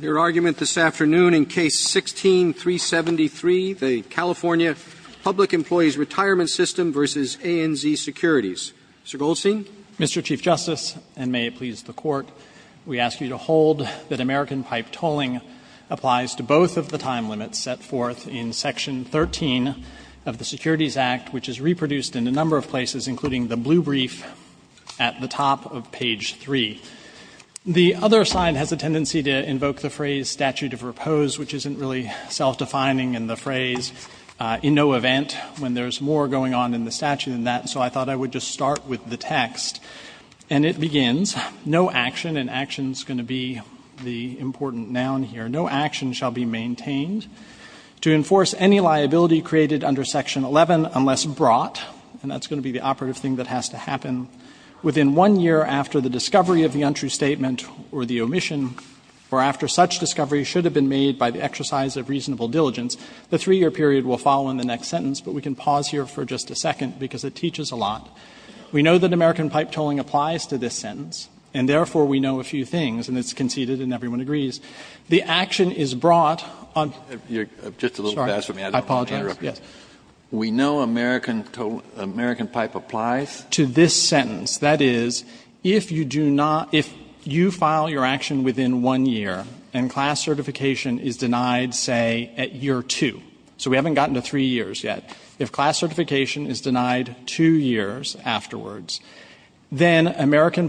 Your argument this afternoon in Case 16-373, the California Public Employees' Retirement System v. ANZ Securities. Mr. Goldstein. Mr. Chief Justice, and may it please the Court, we ask you to hold that American pipe tolling applies to both of the time limits set forth in Section 13 of the Securities Act, which is reproduced in a number of places, including the blue brief at the top of page 3. The other side has a tendency to invoke the phrase statute of repose, which isn't really self-defining in the phrase, in no event when there's more going on in the statute than that, so I thought I would just start with the text. And it begins, no action, and action is going to be the important noun here, no action shall be maintained to enforce any liability created under Section 11 unless brought, and that's going to be the operative thing that has to happen within one year after the discovery of the untrue statement or the omission, or after such discovery should have been made by the exercise of reasonable diligence. The 3-year period will follow in the next sentence, but we can pause here for just a second, because it teaches a lot. We know that American pipe tolling applies to this sentence, and therefore we know a few things, and it's conceded and everyone agrees. The action is brought on the other side of page 3 of Section 13 of the Securities of page 3 of the Securities Act, which is reproduced in a number of places, and that's what we know from that. And so what we know from that, I think, is, as American pipe tells us, that the class action complaint commences the action on behalf of the class member, and that's And so what we know from that, I think, is that if you do not, if you file your action within one year and class certification is denied, say, at year 2, so we haven't gotten to 3 years yet, if class certification is denied 2 years afterwards, then American pipe tells us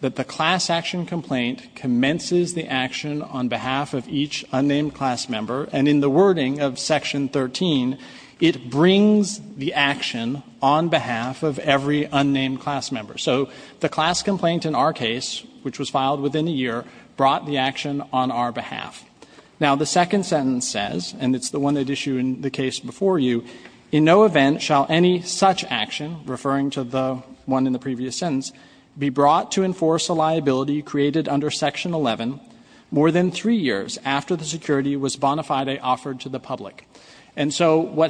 that the class action complaint commences the action on behalf of each unnamed class member, and in the wording of Section 13, it brings the action on behalf of every unnamed class member. So the class complaint in our case, which was filed within a year, brought the action on our behalf. Now, the second sentence says, and it's the one that issued the case before you, And so what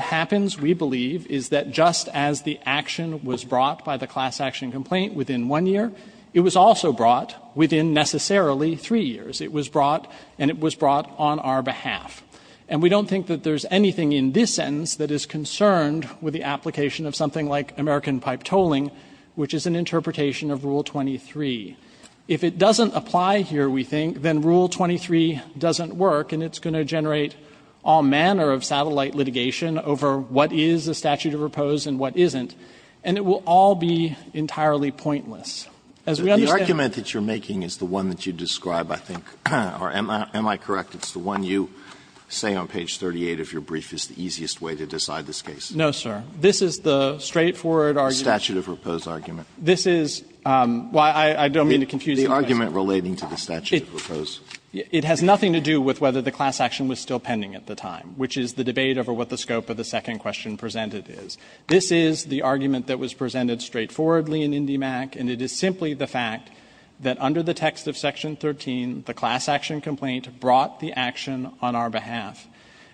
happens, we believe, is that just as the action was brought by the class action complaint within one year, it was also brought within necessarily 3 years. It was brought, and it was brought on our behalf. And we don't think that there's anything in this sentence that is consistent with complaint complaint complaint complaint complaint complaint complaint complaint with the application of something like American pipe tolling, which is an interpretation of Rule 23. If it doesn't apply here, we think, then Rule 23 doesn't work, and it's going to generate all manner of satellite litigation over what is a statute of repose and what isn't. And it will all be entirely pointless. As we understand Alito The argument that you're making is the one that you described, I think, or am I correct, it's the one you say on page 38 of your brief is the easiest way to decide this case? No, sir. This is the straightforward argument. Statute of repose argument. This is, well, I don't mean to confuse the argument relating to the statute of repose. It has nothing to do with whether the class action was still pending at the time, which is the debate over what the scope of the second question presented is. This is the argument that was presented straightforwardly in IndyMac, and it is simply the fact that under the text of Section 13, the class action complaint brought the action on our behalf.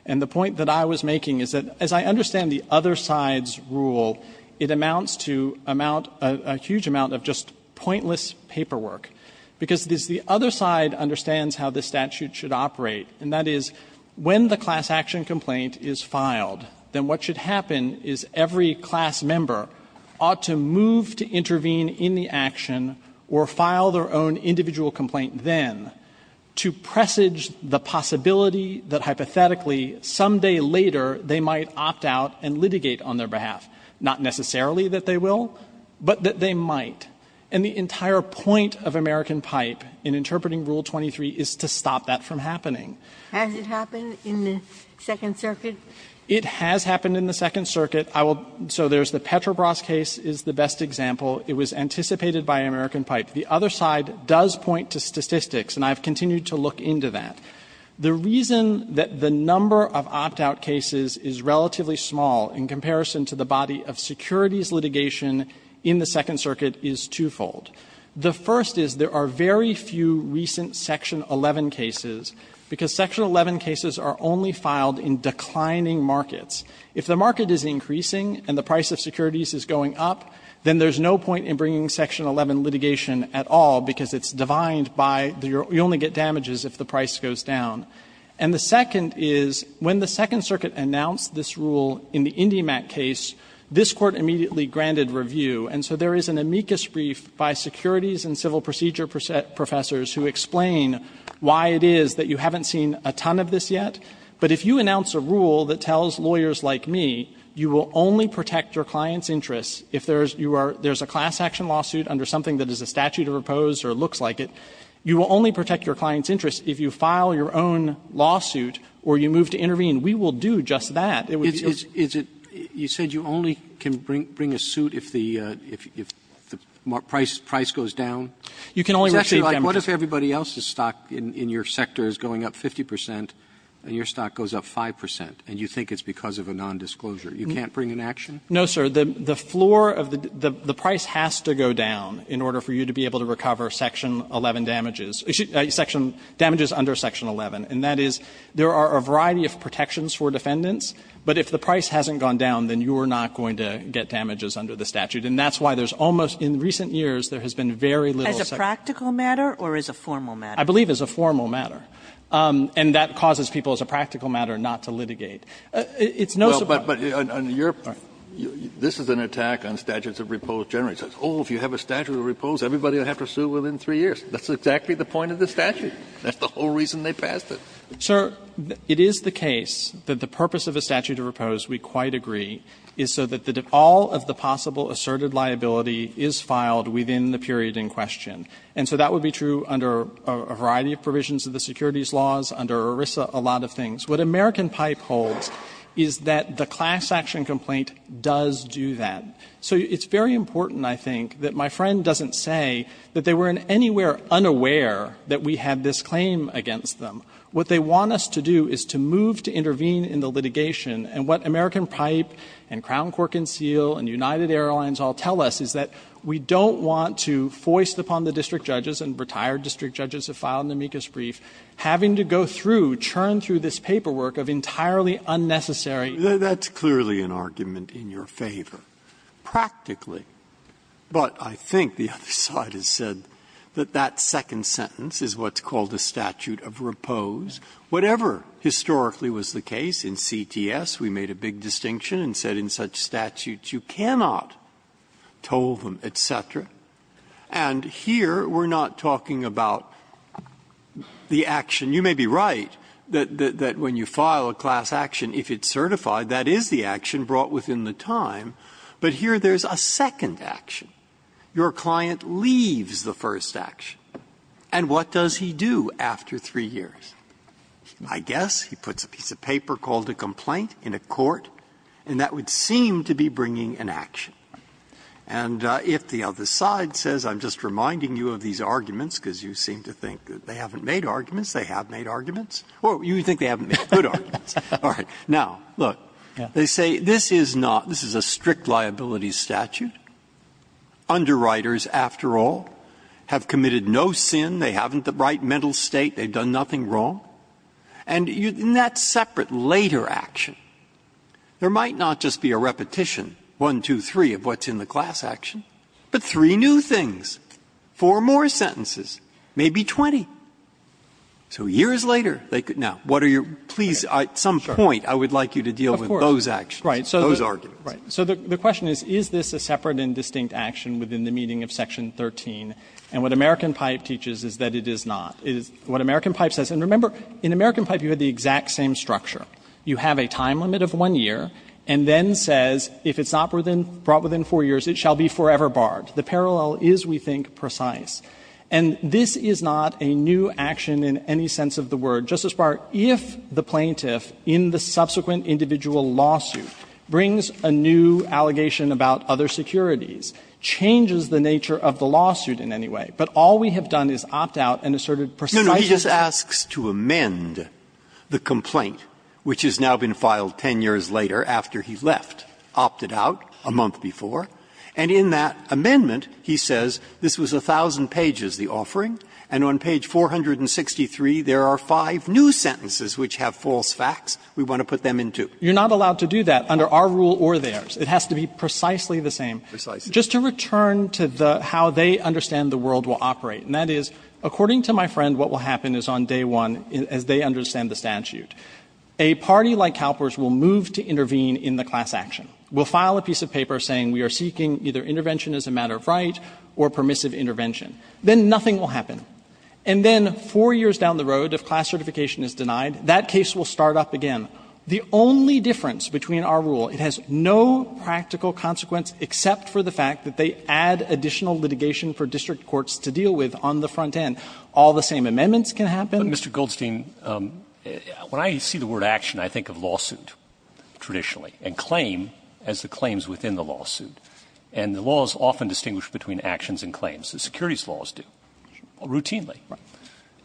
And the point that I was making is that as I understand the other side's rule, it amounts to a huge amount of just pointless paperwork, because the other side understands how this statute should operate, and that is when the class action complaint is filed, then what should happen is every class member ought to move to intervene in the action or file their own individual complaint then to presage the possibility that hypothetically some day later they might opt out and litigate on their behalf, not necessarily that they will, but that they might. And the entire point of American Pipe in interpreting Rule 23 is to stop that from happening. Has it happened in the Second Circuit? It has happened in the Second Circuit. I will so there's the Petrobras case is the best example. It was anticipated by American Pipe. The other side does point to statistics, and I have continued to look into that. The reason that the number of opt-out cases is relatively small in comparison to the body of securities litigation in the Second Circuit is twofold. The first is there are very few recent Section 11 cases, because Section 11 cases are only filed in declining markets. If the market is increasing and the price of securities is going up, then there's no point in bringing Section 11 litigation at all, because it's divined by you only to get damages if the price goes down. And the second is when the Second Circuit announced this rule in the IndyMac case, this Court immediately granted review. And so there is an amicus brief by securities and civil procedure professors who explain why it is that you haven't seen a ton of this yet. But if you announce a rule that tells lawyers like me you will only protect your client's interests if there's a class action lawsuit under something that is a statute to propose or looks like it, you will only protect your client's interest if you file your own lawsuit or you move to intervene. We will do just that. It would be a big deal. Roberts. You said you only can bring a suit if the price goes down? You can only receive damages. It's actually like what if everybody else's stock in your sector is going up 50 percent and your stock goes up 5 percent, and you think it's because of a nondisclosure? You can't bring an action? No, sir. The floor of the price has to go down in order for you to be able to recover section 11 damages, damages under section 11. And that is there are a variety of protections for defendants, but if the price hasn't gone down, then you are not going to get damages under the statute. And that's why there's almost, in recent years, there has been very little such. As a practical matter or as a formal matter? I believe as a formal matter. And that causes people, as a practical matter, not to litigate. It's no surprise. But on your point, this is an attack on statutes of repose generally. Oh, if you have a statute of repose, everybody will have to sue within three years. That's exactly the point of the statute. That's the whole reason they passed it. Sir, it is the case that the purpose of a statute of repose, we quite agree, is so that all of the possible asserted liability is filed within the period in question. And so that would be true under a variety of provisions of the securities laws, under ERISA, a lot of things. What American Pipe holds is that the class action complaint does do that. So it's very important, I think, that my friend doesn't say that they were in anywhere unaware that we had this claim against them. What they want us to do is to move to intervene in the litigation. And what American Pipe and Crown Cork and Seal and United Airlines all tell us is that we don't want to, foist upon the district judges and retired district judges who have filed an amicus brief, having to go through, churn through this paperwork of entirely unnecessary. That's clearly an argument in your favor, practically. But I think the other side has said that that second sentence is what's called a statute of repose. Whatever historically was the case in CTS, we made a big distinction and said in such statutes you cannot toll them, et cetera. And here we're not talking about the action. You may be right that when you file a class action, if it's certified, that is the action brought within the time. But here there's a second action. Your client leaves the first action. And what does he do after three years? I guess he puts a piece of paper called a complaint in a court, and that would seem to be bringing an action. And if the other side says, I'm just reminding you of these arguments because you seem to think that they haven't made arguments, they have made arguments, or you think they haven't made good arguments, all right, now, look, they say this is not, this is a strict liability statute. Underwriters, after all, have committed no sin. They haven't the right mental state. They've done nothing wrong. And in that separate later action, there might not just be a repetition, one, two, three, of what's in the class action, but three new things, four more sentences, maybe 20. So years later, they could now, what are your, please, at some point, I would like you to deal with those actions, those arguments. Gershengorn Right. So the question is, is this a separate and distinct action within the meaning of Section 13? And what American Pipe teaches is that it is not. What American Pipe says, and remember, in American Pipe you had the exact same structure. You have a time limit of one year, and then says, if it's not brought within four years, it shall be forever barred. The parallel is, we think, precise. And this is not a new action in any sense of the word. Justice Breyer, if the plaintiff, in the subsequent individual lawsuit, brings a new allegation about other securities, changes the nature of the lawsuit in any way, but all we have done is opt out and asserted precisely the same. Which has now been filed 10 years later after he left. Opted out a month before. And in that amendment, he says, this was 1,000 pages, the offering. And on page 463, there are five new sentences which have false facts. We want to put them in too. Gershengorn You're not allowed to do that under our rule or theirs. It has to be precisely the same. Breyer Precisely. Gershengorn Just to return to the, how they understand the world will operate. And that is, according to my friend, what will happen is on day one, as they understand the statute, a party like CalPERS will move to intervene in the class action. We'll file a piece of paper saying we are seeking either intervention as a matter of right or permissive intervention. Then nothing will happen. And then four years down the road, if class certification is denied, that case will start up again. The only difference between our rule, it has no practical consequence except for the fact that they add additional litigation for district courts to deal with on the front end. All the same amendments can happen. But, Mr. Goldstein, when I see the word action, I think of lawsuit, traditionally, and claim as the claims within the lawsuit. And the law is often distinguished between actions and claims. The securities laws do, routinely.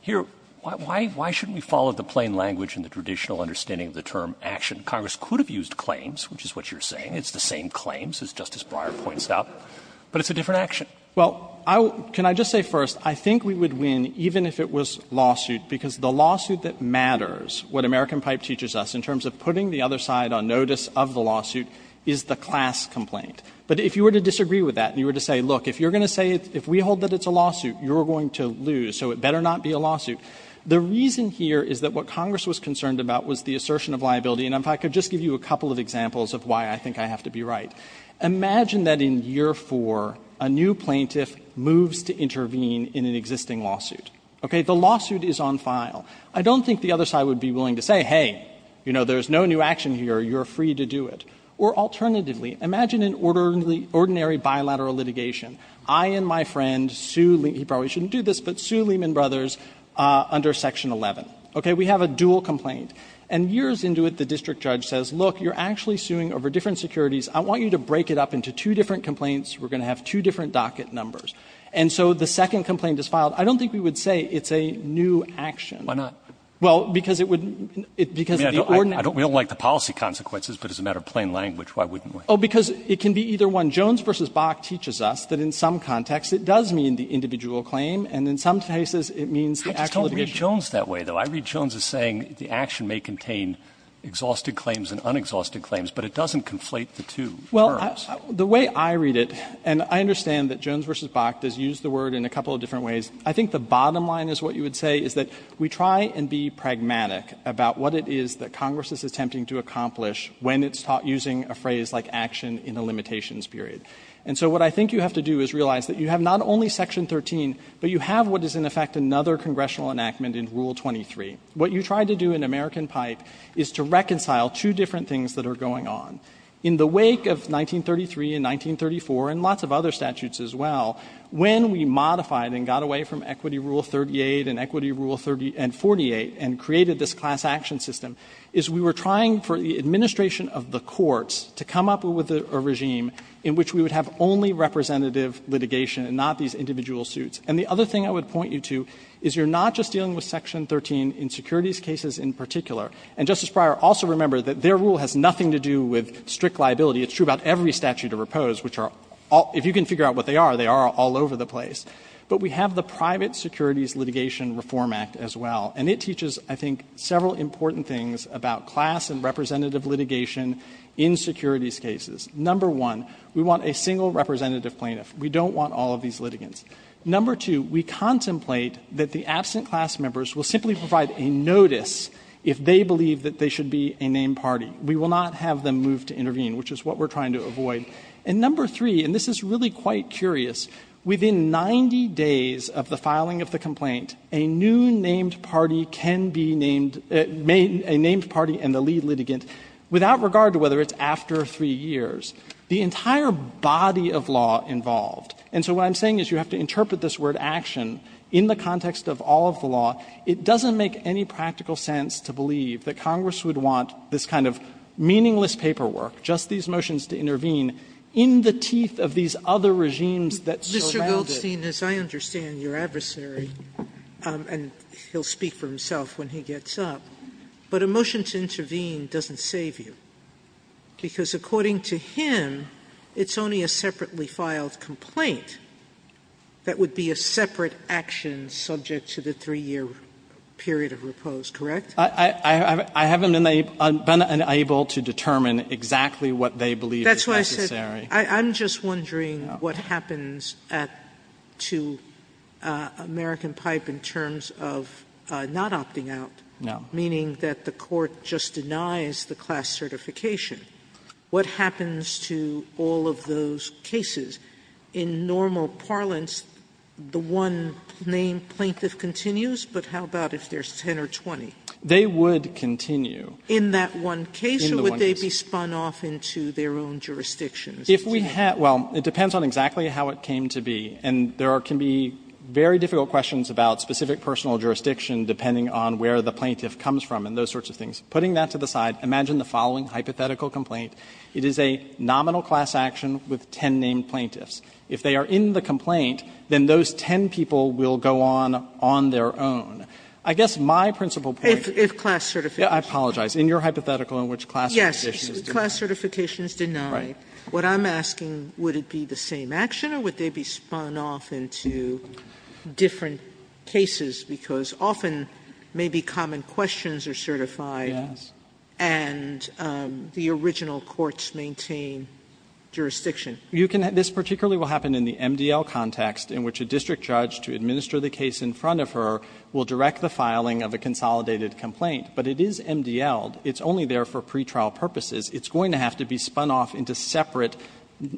Here, why shouldn't we follow the plain language and the traditional understanding of the term action? Congress could have used claims, which is what you're saying. It's the same claims, as Justice Breyer points out, but it's a different action. Goldstein Well, can I just say first, I think we would win, even if it was lawsuit because the lawsuit that matters, what American Pipe teaches us, in terms of putting the other side on notice of the lawsuit, is the class complaint. But if you were to disagree with that, and you were to say, look, if you're going to say, if we hold that it's a lawsuit, you're going to lose, so it better not be a lawsuit. The reason here is that what Congress was concerned about was the assertion of liability. And if I could just give you a couple of examples of why I think I have to be right. Imagine that in year 4, a new plaintiff moves to intervene in an existing lawsuit. Okay. The lawsuit is on file. I don't think the other side would be willing to say, hey, you know, there's no new action here. You're free to do it. Or alternatively, imagine an ordinary bilateral litigation. I and my friend sue Lee – he probably shouldn't do this, but sue Lehman Brothers under Section 11. Okay. We have a dual complaint. And years into it, the district judge says, look, you're actually suing over different securities. I want you to break it up into two different complaints. We're going to have two different docket numbers. And so the second complaint is filed. I don't think we would say it's a new action. Roberts. Why not? Well, because it would – because the ordinary – I don't – we don't like the policy consequences, but as a matter of plain language, why wouldn't we? Oh, because it can be either one. Jones v. Bach teaches us that in some contexts it does mean the individual claim, and in some cases it means the actual litigation. I just don't read Jones that way, though. I read Jones as saying the action may contain exhausted claims and unexhausted claims, but it doesn't conflate the two terms. Well, the way I read it, and I understand that Jones v. Bach does use the word in a I think the bottom line is what you would say, is that we try and be pragmatic about what it is that Congress is attempting to accomplish when it's using a phrase like action in a limitations period. And so what I think you have to do is realize that you have not only Section 13, but you have what is, in effect, another congressional enactment in Rule 23. What you tried to do in American Pipe is to reconcile two different things that are going on. In the wake of 1933 and 1934, and lots of other statutes as well, when we modified and got away from Equity Rule 38 and Equity Rule 48 and created this class action system, is we were trying for the administration of the courts to come up with a regime in which we would have only representative litigation and not these individual suits. And the other thing I would point you to is you're not just dealing with Section 13 in securities cases in particular. And, Justice Breyer, also remember that their rule has nothing to do with strict liability. It's true about every statute of repose, which are all — if you can figure out what they are, they are all over the place. But we have the Private Securities Litigation Reform Act as well. And it teaches, I think, several important things about class and representative litigation in securities cases. Number one, we want a single representative plaintiff. We don't want all of these litigants. Number two, we contemplate that the absent class members will simply provide a notice if they believe that they should be a named party. We will not have them move to intervene, which is what we're trying to avoid. And number three, and this is really quite curious, within 90 days of the filing of the complaint, a new named party can be named — a named party and the lead litigant, without regard to whether it's after three years, the entire body of law involved. And so what I'm saying is you have to interpret this word, action, in the context of all of the law. It doesn't make any practical sense to believe that Congress would want this kind of meaningless paperwork, just these motions to intervene. In the teeth of these other regimes that surround it. Sotomayor, Mr. Goldstein, as I understand your adversary, and he'll speak for himself when he gets up, but a motion to intervene doesn't save you, because according to him, it's only a separately filed complaint that would be a separate action subject to the three-year period of repose, correct? I haven't been able to determine exactly what they believe is necessary. Sotomayor, I'm just wondering what happens to American Pipe in terms of not opting out, meaning that the court just denies the class certification. What happens to all of those cases? In normal parlance, the one-name plaintiff continues, but how about if there's 10 or 20? They would continue. In that one case? In that one case. Or would they be spun off into their own jurisdictions? If we had to, well, it depends on exactly how it came to be. And there can be very difficult questions about specific personal jurisdiction depending on where the plaintiff comes from and those sorts of things. Putting that to the side, imagine the following hypothetical complaint. It is a nominal class action with 10 named plaintiffs. If they are in the complaint, then those 10 people will go on on their own. I guess my principal point is. If class certification. I apologize. In your hypothetical in which class certification is. Yes, class certification is denied. What I'm asking, would it be the same action, or would they be spun off into different cases, because often maybe common questions are certified. And the original courts maintain jurisdiction. You can. This particularly will happen in the MDL context, in which a district judge to administer the case in front of her will direct the filing of a consolidated complaint. But it is MDL. It's only there for pretrial purposes. It's going to have to be spun off into separate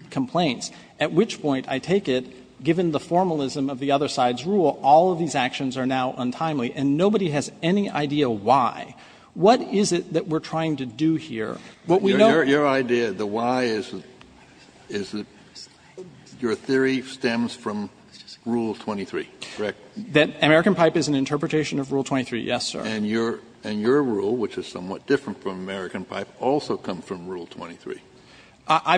complaints. At which point, I take it, given the formalism of the other side's rule, all of these actions are now untimely, and nobody has any idea why. What is it that we're trying to do here? What we know. Kennedy, your idea, the why is that your theory stems from Rule 23, correct? That American Pipe is an interpretation of Rule 23, yes, sir. And your rule, which is somewhat different from American Pipe, also comes from Rule 23, your principle. I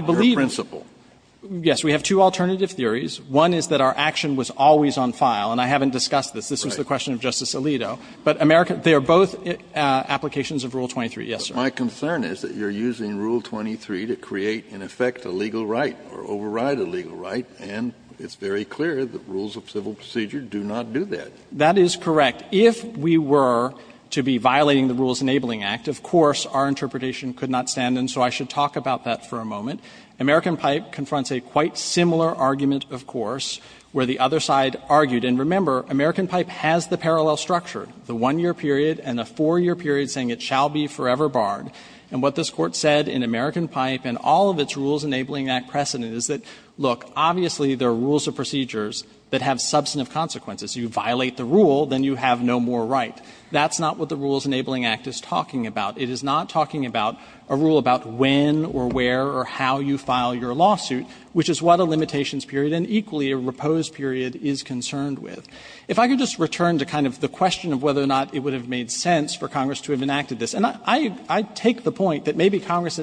believe, yes, we have two alternative theories. One is that our action was always on file, and I haven't discussed this. This was the question of Justice Alito. But they are both applications of Rule 23, yes, sir. But my concern is that you're using Rule 23 to create, in effect, a legal right or override a legal right, and it's very clear that rules of civil procedure do not do that. That is correct. But if we were to be violating the Rules Enabling Act, of course, our interpretation could not stand, and so I should talk about that for a moment. American Pipe confronts a quite similar argument, of course, where the other side argued. And remember, American Pipe has the parallel structure, the one-year period and a four-year period saying it shall be forever barred. And what this Court said in American Pipe and all of its Rules Enabling Act precedent is that, look, obviously there are rules of procedures that have substantive consequences. You violate the rule, then you have no more right. That's not what the Rules Enabling Act is talking about. It is not talking about a rule about when or where or how you file your lawsuit, which is what a limitations period and equally a repose period is concerned with. If I could just return to kind of the question of whether or not it would have made sense for Congress to have enacted this. And I take the point that maybe Congress,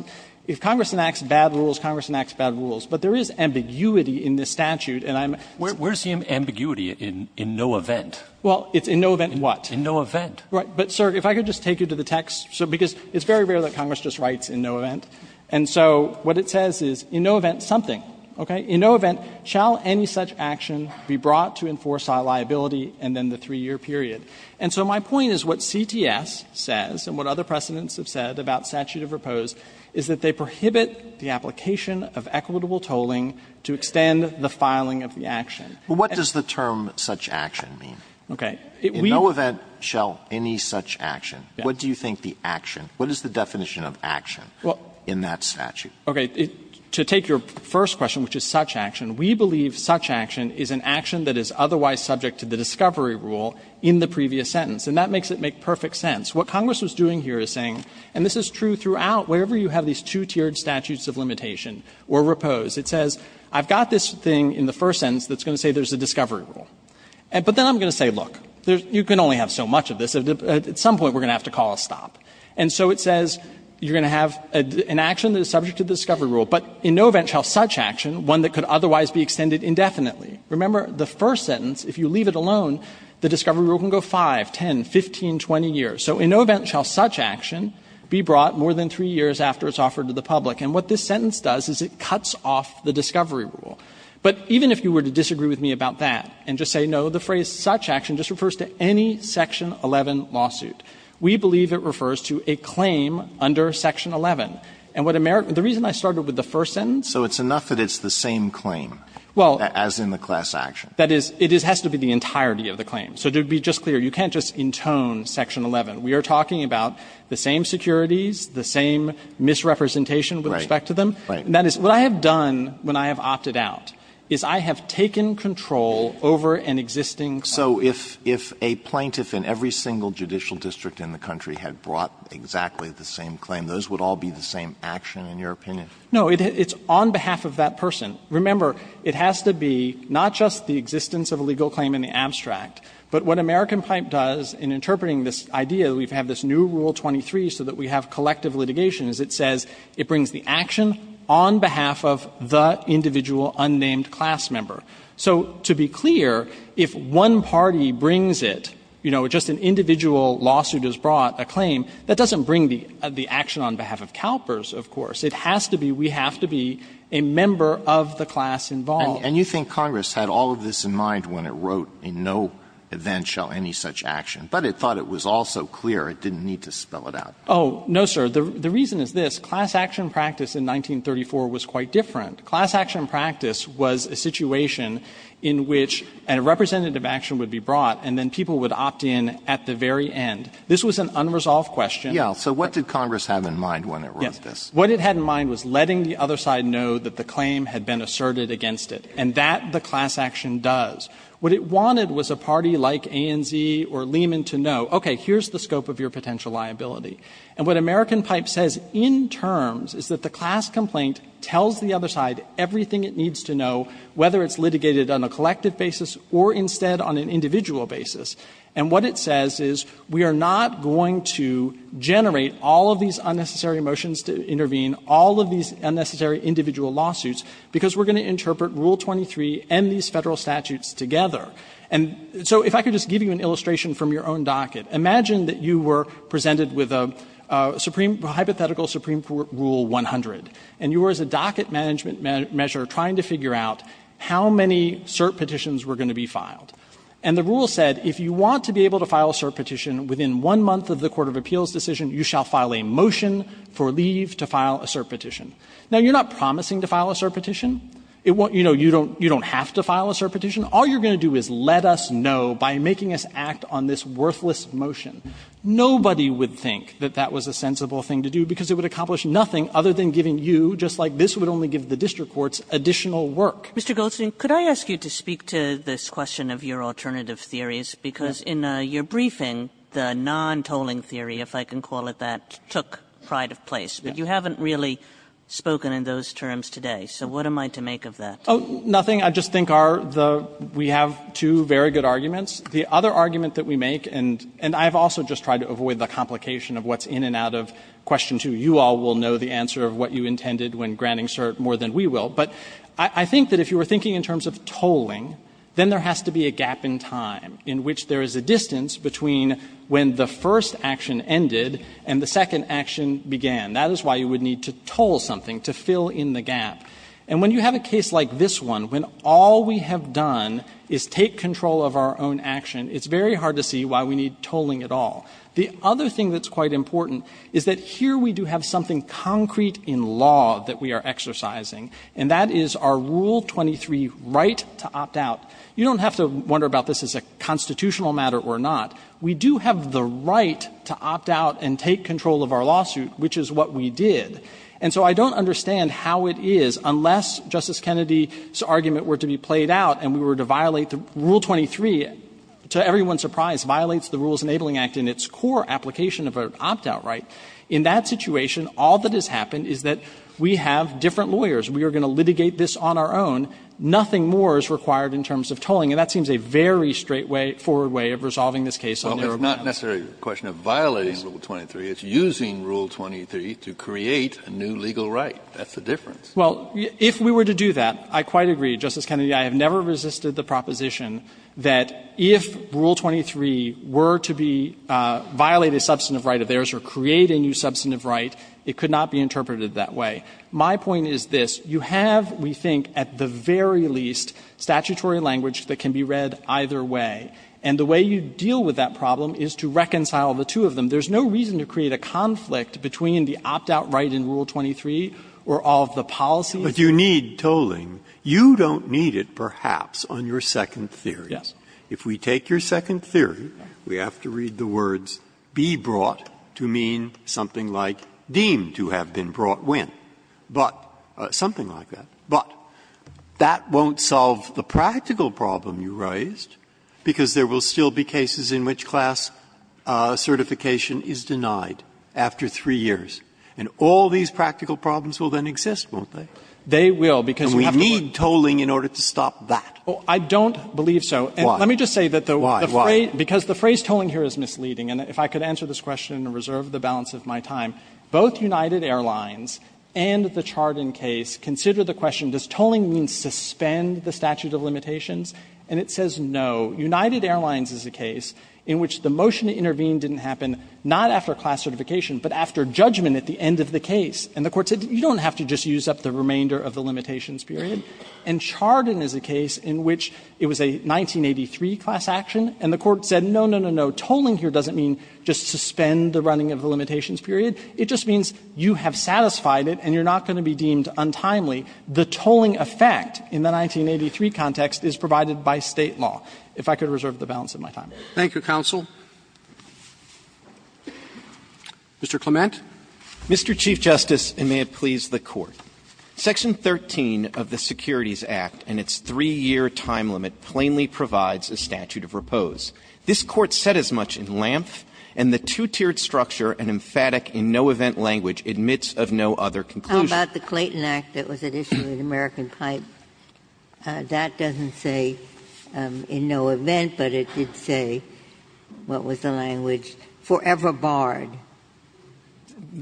if Congress enacts bad rules, Congress enacts bad rules. But there is ambiguity in this statute, and I'm sorry. But there is the same ambiguity in no event. Well, it's in no event what? In no event. Right. But, sir, if I could just take you to the text, because it's very rare that Congress just writes in no event. And so what it says is in no event something, okay? In no event shall any such action be brought to enforce our liability and then the three-year period. And so my point is what CTS says and what other precedents have said about statute of repose is that they prohibit the application of equitable tolling to extend the filing of the action. But what does the term such action mean? Okay. In no event shall any such action. What do you think the action, what is the definition of action in that statute? Okay. To take your first question, which is such action, we believe such action is an action that is otherwise subject to the discovery rule in the previous sentence. And that makes it make perfect sense. What Congress was doing here is saying, and this is true throughout, wherever you have these two-tiered statutes of limitation or repose, it says I've got this thing in the first sentence that's going to say there's a discovery rule. But then I'm going to say, look, you can only have so much of this. At some point we're going to have to call a stop. And so it says you're going to have an action that is subject to the discovery rule, but in no event shall such action, one that could otherwise be extended indefinitely. Remember, the first sentence, if you leave it alone, the discovery rule can go 5, 10, 15, 20 years. So in no event shall such action be brought more than three years after it's offered to the public. And what this sentence does is it cuts off the discovery rule. But even if you were to disagree with me about that and just say, no, the phrase such action just refers to any Section 11 lawsuit, we believe it refers to a claim under Section 11. And what America – the reason I started with the first sentence – Alitoso, it's enough that it's the same claim as in the class action. That is, it has to be the entirety of the claim. So to be just clear, you can't just intone Section 11. We are talking about the same securities, the same misrepresentation with respect to them. Right. That is, what I have done when I have opted out is I have taken control over an existing claim. So if a plaintiff in every single judicial district in the country had brought exactly the same claim, those would all be the same action, in your opinion? No. It's on behalf of that person. Remember, it has to be not just the existence of a legal claim in the abstract, but what American Pipe does in interpreting this idea, we have this new Rule 23 so that we have collective litigation, is it says it brings the action on behalf of the individual unnamed class member. So to be clear, if one party brings it, you know, just an individual lawsuit has brought a claim, that doesn't bring the action on behalf of CalPERS, of course. It has to be – we have to be a member of the class involved. And you think Congress had all of this in mind when it wrote, in no event shall any such action. But it thought it was also clear it didn't need to spell it out. Oh, no, sir. The reason is this. Class action practice in 1934 was quite different. Class action practice was a situation in which a representative action would be brought, and then people would opt in at the very end. This was an unresolved question. Yes. So what did Congress have in mind when it wrote this? Yes. What it had in mind was letting the other side know that the claim had been asserted against it, and that the class action does. What it wanted was a party like ANZ or Lehman to know, okay, here's the scope of your potential liability. And what American Pipe says in terms is that the class complaint tells the other side everything it needs to know, whether it's litigated on a collective basis or instead on an individual basis. And what it says is we are not going to generate all of these unnecessary motions to intervene, all of these unnecessary individual lawsuits, because we're going to interpret Rule 23 and these Federal statutes together. And so if I could just give you an illustration from your own docket. Imagine that you were presented with a hypothetical Supreme Court Rule 100, and you were, as a docket management measure, trying to figure out how many cert petitions were going to be filed. And the rule said, if you want to be able to file a cert petition within one month of the court of appeals decision, you shall file a motion for leave to file a cert petition. Now, you're not promising to file a cert petition. You don't have to file a cert petition. All you're going to do is let us know by making us act on this worthless motion. Nobody would think that that was a sensible thing to do, because it would accomplish nothing other than giving you, just like this would only give the district courts additional work. Kagan. Mr. Goldstein, could I ask you to speak to this question of your alternative theories, because in your briefing, the non-tolling theory, if I can call it that, took pride of place. But you haven't really spoken in those terms today, so what am I to make of that? Oh, nothing. I just think our the we have two very good arguments. The other argument that we make, and I have also just tried to avoid the complication of what's in and out of question two. You all will know the answer of what you intended when granting cert more than we will. But I think that if you were thinking in terms of tolling, then there has to be a gap in time in which there is a distance between when the first action ended and the second action began. That is why you would need to toll something, to fill in the gap. And when you have a case like this one, when all we have done is take control of our own action, it's very hard to see why we need tolling at all. The other thing that's quite important is that here we do have something concrete in law that we are exercising, and that is our Rule 23 right to opt out. You don't have to wonder about this as a constitutional matter or not. We do have the right to opt out and take control of our lawsuit, which is what we did. And so I don't understand how it is, unless Justice Kennedy's argument were to be played out and we were to violate the Rule 23, to everyone's surprise, violates the Rules Enabling Act in its core application of an opt-out right. In that situation, all that has happened is that we have different lawyers. We are going to litigate this on our own. Nothing more is required in terms of tolling. And that seems a very straightforward way of resolving this case on their own. Kennedy, it's not necessarily a question of violating Rule 23, it's using Rule 23 to create a new legal right. That's the difference. Well, if we were to do that, I quite agree, Justice Kennedy. I have never resisted the proposition that if Rule 23 were to be violating a substantive right of theirs or create a new substantive right, it could not be interpreted that way. My point is this. You have, we think, at the very least, statutory language that can be read either way. And the way you deal with that problem is to reconcile the two of them. There's no reason to create a conflict between the opt-out right in Rule 23 or all of the policies. Breyer, but you need tolling. You don't need it, perhaps, on your second theory. Yes. If we take your second theory, we have to read the words, be brought, to mean something like deemed to have been brought when, but, something like that. But that won't solve the practical problem you raised, because there will still be cases in which class certification is denied after three years. And all these practical problems will then exist, won't they? They will, because we have to work. And we need tolling in order to stop that. I don't believe so. And let me just say that the phrase tolling here is misleading, and if I could answer this question and reserve the balance of my time, both United Airlines and the Chardon case consider the question, does tolling mean suspend the statute of limitations? And it says, no. United Airlines is a case in which the motion to intervene didn't happen, not after class certification, but after judgment at the end of the case. And the Court said, you don't have to just use up the remainder of the limitations period. And Chardon is a case in which it was a 1983 class action, and the Court said, no, no, no, no, tolling here doesn't mean just suspend the running of the limitations period. It just means you have satisfied it and you're not going to be deemed untimely. The tolling effect in the 1983 context is provided by State law. If I could reserve the balance of my time. Roberts. Thank you, counsel. Mr. Clement. Mr. Chief Justice, and may it please the Court. Section 13 of the Securities Act and its 3-year time limit plainly provides a statute of repose. This Court said as much in Lampf and the two-tiered structure and emphatic in-no-event language admits of no other conclusion. How about the Clayton Act that was at issue in American Pipe? That doesn't say in-no-event, but it did say, what was the language, forever barred,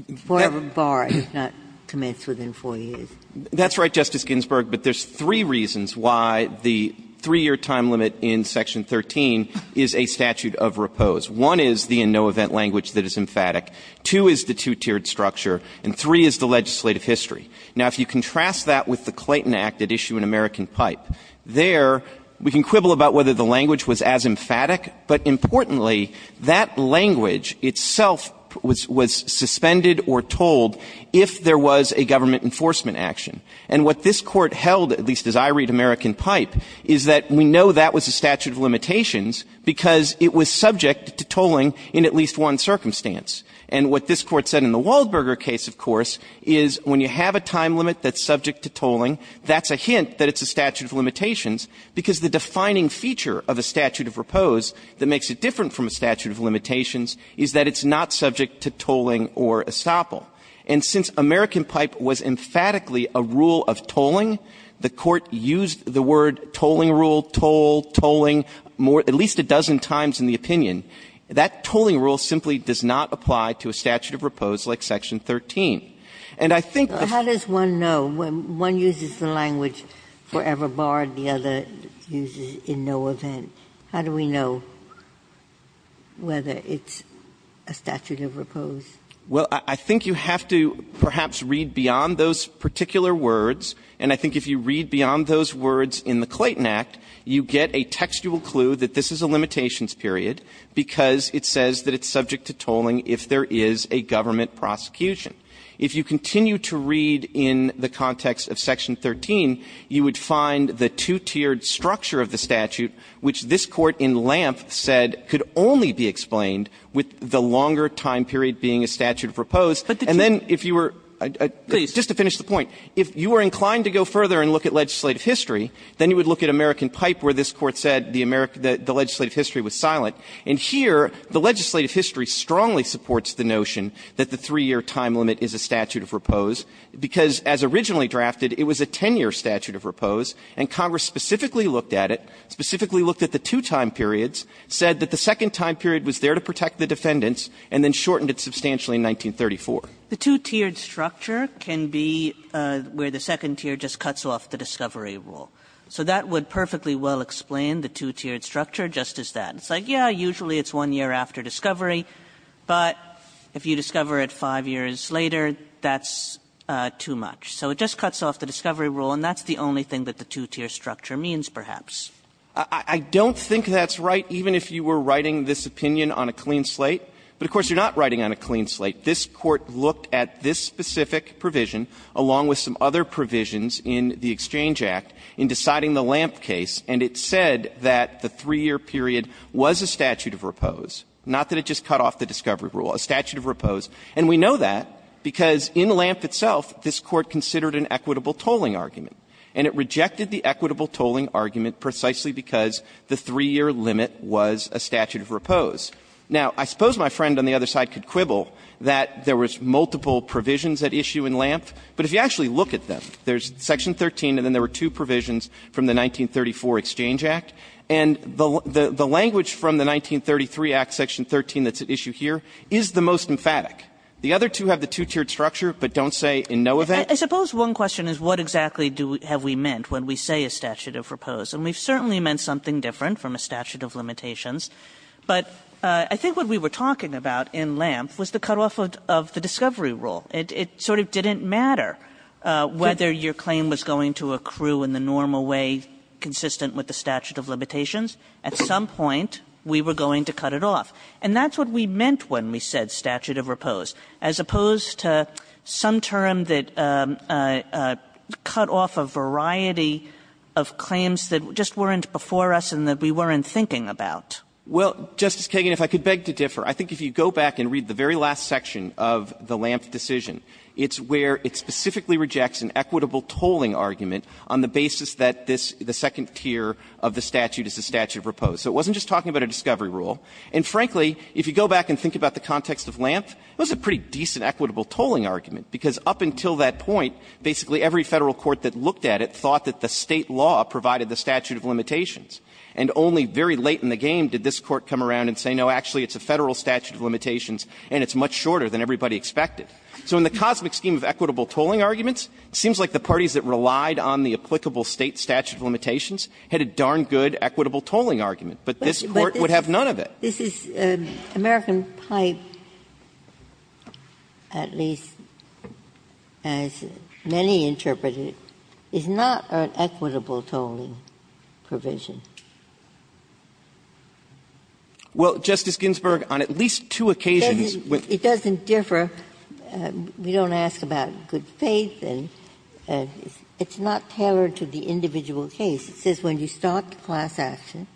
if not commenced within 4 years? That's right, Justice Ginsburg, but there's three reasons why the 3-year time limit in Section 13 is a statute of repose. One is the in-no-event language that is emphatic. Two is the two-tiered structure. And three is the legislative history. Now, if you contrast that with the Clayton Act at issue in American Pipe, there we can quibble about whether the language was as emphatic, but importantly, that language itself was suspended or tolled if there was a government enforcement action. And what this Court held, at least as I read American Pipe, is that we know that was a statute of limitations because it was subject to tolling in at least one circumstance. And what this Court said in the Waldberger case, of course, is when you have a time limit that's subject to tolling, that's a hint that it's a statute of limitations because the defining feature of a statute of repose that makes it different from a statute of limitations is that it's not subject to tolling or estoppel. And since American Pipe was emphatically a rule of tolling, the Court used the word tolling rule, toll, tolling, more at least a dozen times in the opinion. That tolling rule simply does not apply to a statute of repose like Section 13. And I think that's why it's not a statute of limitations. Ginsburg. The other use is in no event. How do we know whether it's a statute of repose? Well, I think you have to perhaps read beyond those particular words, and I think if you read beyond those words in the Clayton Act, you get a textual clue that this is a limitations period because it says that it's subject to tolling if there is a government prosecution. If you continue to read in the context of Section 13, you would find the two-tiered structure of the statute, which this Court in Lampf said could only be explained with the longer time period being a statute of repose. And then if you were to finish the point, if you were inclined to go further and look at legislative history, then you would look at American Pipe where this Court said the legislative history was silent. And here, the legislative history strongly supports the notion that the 3-year time limit is a statute of repose, because as originally drafted, it was a 10-year statute of repose. And Congress specifically looked at it, specifically looked at the two time periods, said that the second time period was there to protect the defendants, and then shortened it substantially in 1934. The two-tiered structure can be where the second tier just cuts off the discovery rule. So that would perfectly well explain the two-tiered structure just as that. It's like, yeah, usually it's one year after discovery, but if you discover it 5 years later, that's too much. So it just cuts off the discovery rule, and that's the only thing that the two-tiered structure means, perhaps. Clements. I don't think that's right, even if you were writing this opinion on a clean slate. But of course, you're not writing on a clean slate. This Court looked at this specific provision, along with some other provisions in the Exchange Act, in deciding the Lampf case, and it said that the 3-year period was a statute of repose, not that it just cut off the discovery rule, a statute of repose. And we know that because in Lampf itself, this Court considered an equitable tolling argument, and it rejected the equitable tolling argument precisely because the 3-year limit was a statute of repose. Now, I suppose my friend on the other side could quibble that there was multiple provisions at issue in Lampf, but if you actually look at them, there's section 13, and then there were two provisions from the 1934 Exchange Act, and the Lampf language from the 1933 Act, section 13, that's at issue here, is the most emphatic. The other two have the two-tiered structure, but don't say in no event. Kagan. I suppose one question is what exactly have we meant when we say a statute of repose. And we've certainly meant something different from a statute of limitations. But I think what we were talking about in Lampf was the cutoff of the discovery rule. It sort of didn't matter whether your claim was going to accrue in the normal way consistent with the statute of limitations. At some point, we were going to cut it off. And that's what we meant when we said statute of repose, as opposed to some term that cut off a variety of claims that just weren't before us and that we weren't thinking about. Well, Justice Kagan, if I could beg to differ. I think if you go back and read the very last section of the Lampf decision, it's where it specifically rejects an equitable tolling argument on the basis that this, the second tier of the statute is the statute of repose. So it wasn't just talking about a discovery rule. And frankly, if you go back and think about the context of Lampf, it was a pretty decent equitable tolling argument, because up until that point, basically every Federal court that looked at it thought that the State law provided the statute of limitations. And only very late in the game did this Court come around and say, no, actually it's a Federal statute of limitations, and it's much shorter than everybody expected. So in the cosmic scheme of equitable tolling arguments, it seems like the parties that relied on the applicable State statute of limitations had a darn good equitable tolling argument. But this Court would have none of it. Ginsburg. But this is American Pipe, at least as many interpret it, is not an equitable tolling provision. Well, Justice Ginsburg, on at least two occasions with the State statute of limitations it doesn't differ. We don't ask about good faith, and it's not tailored to the individual case. It says when you start the class action,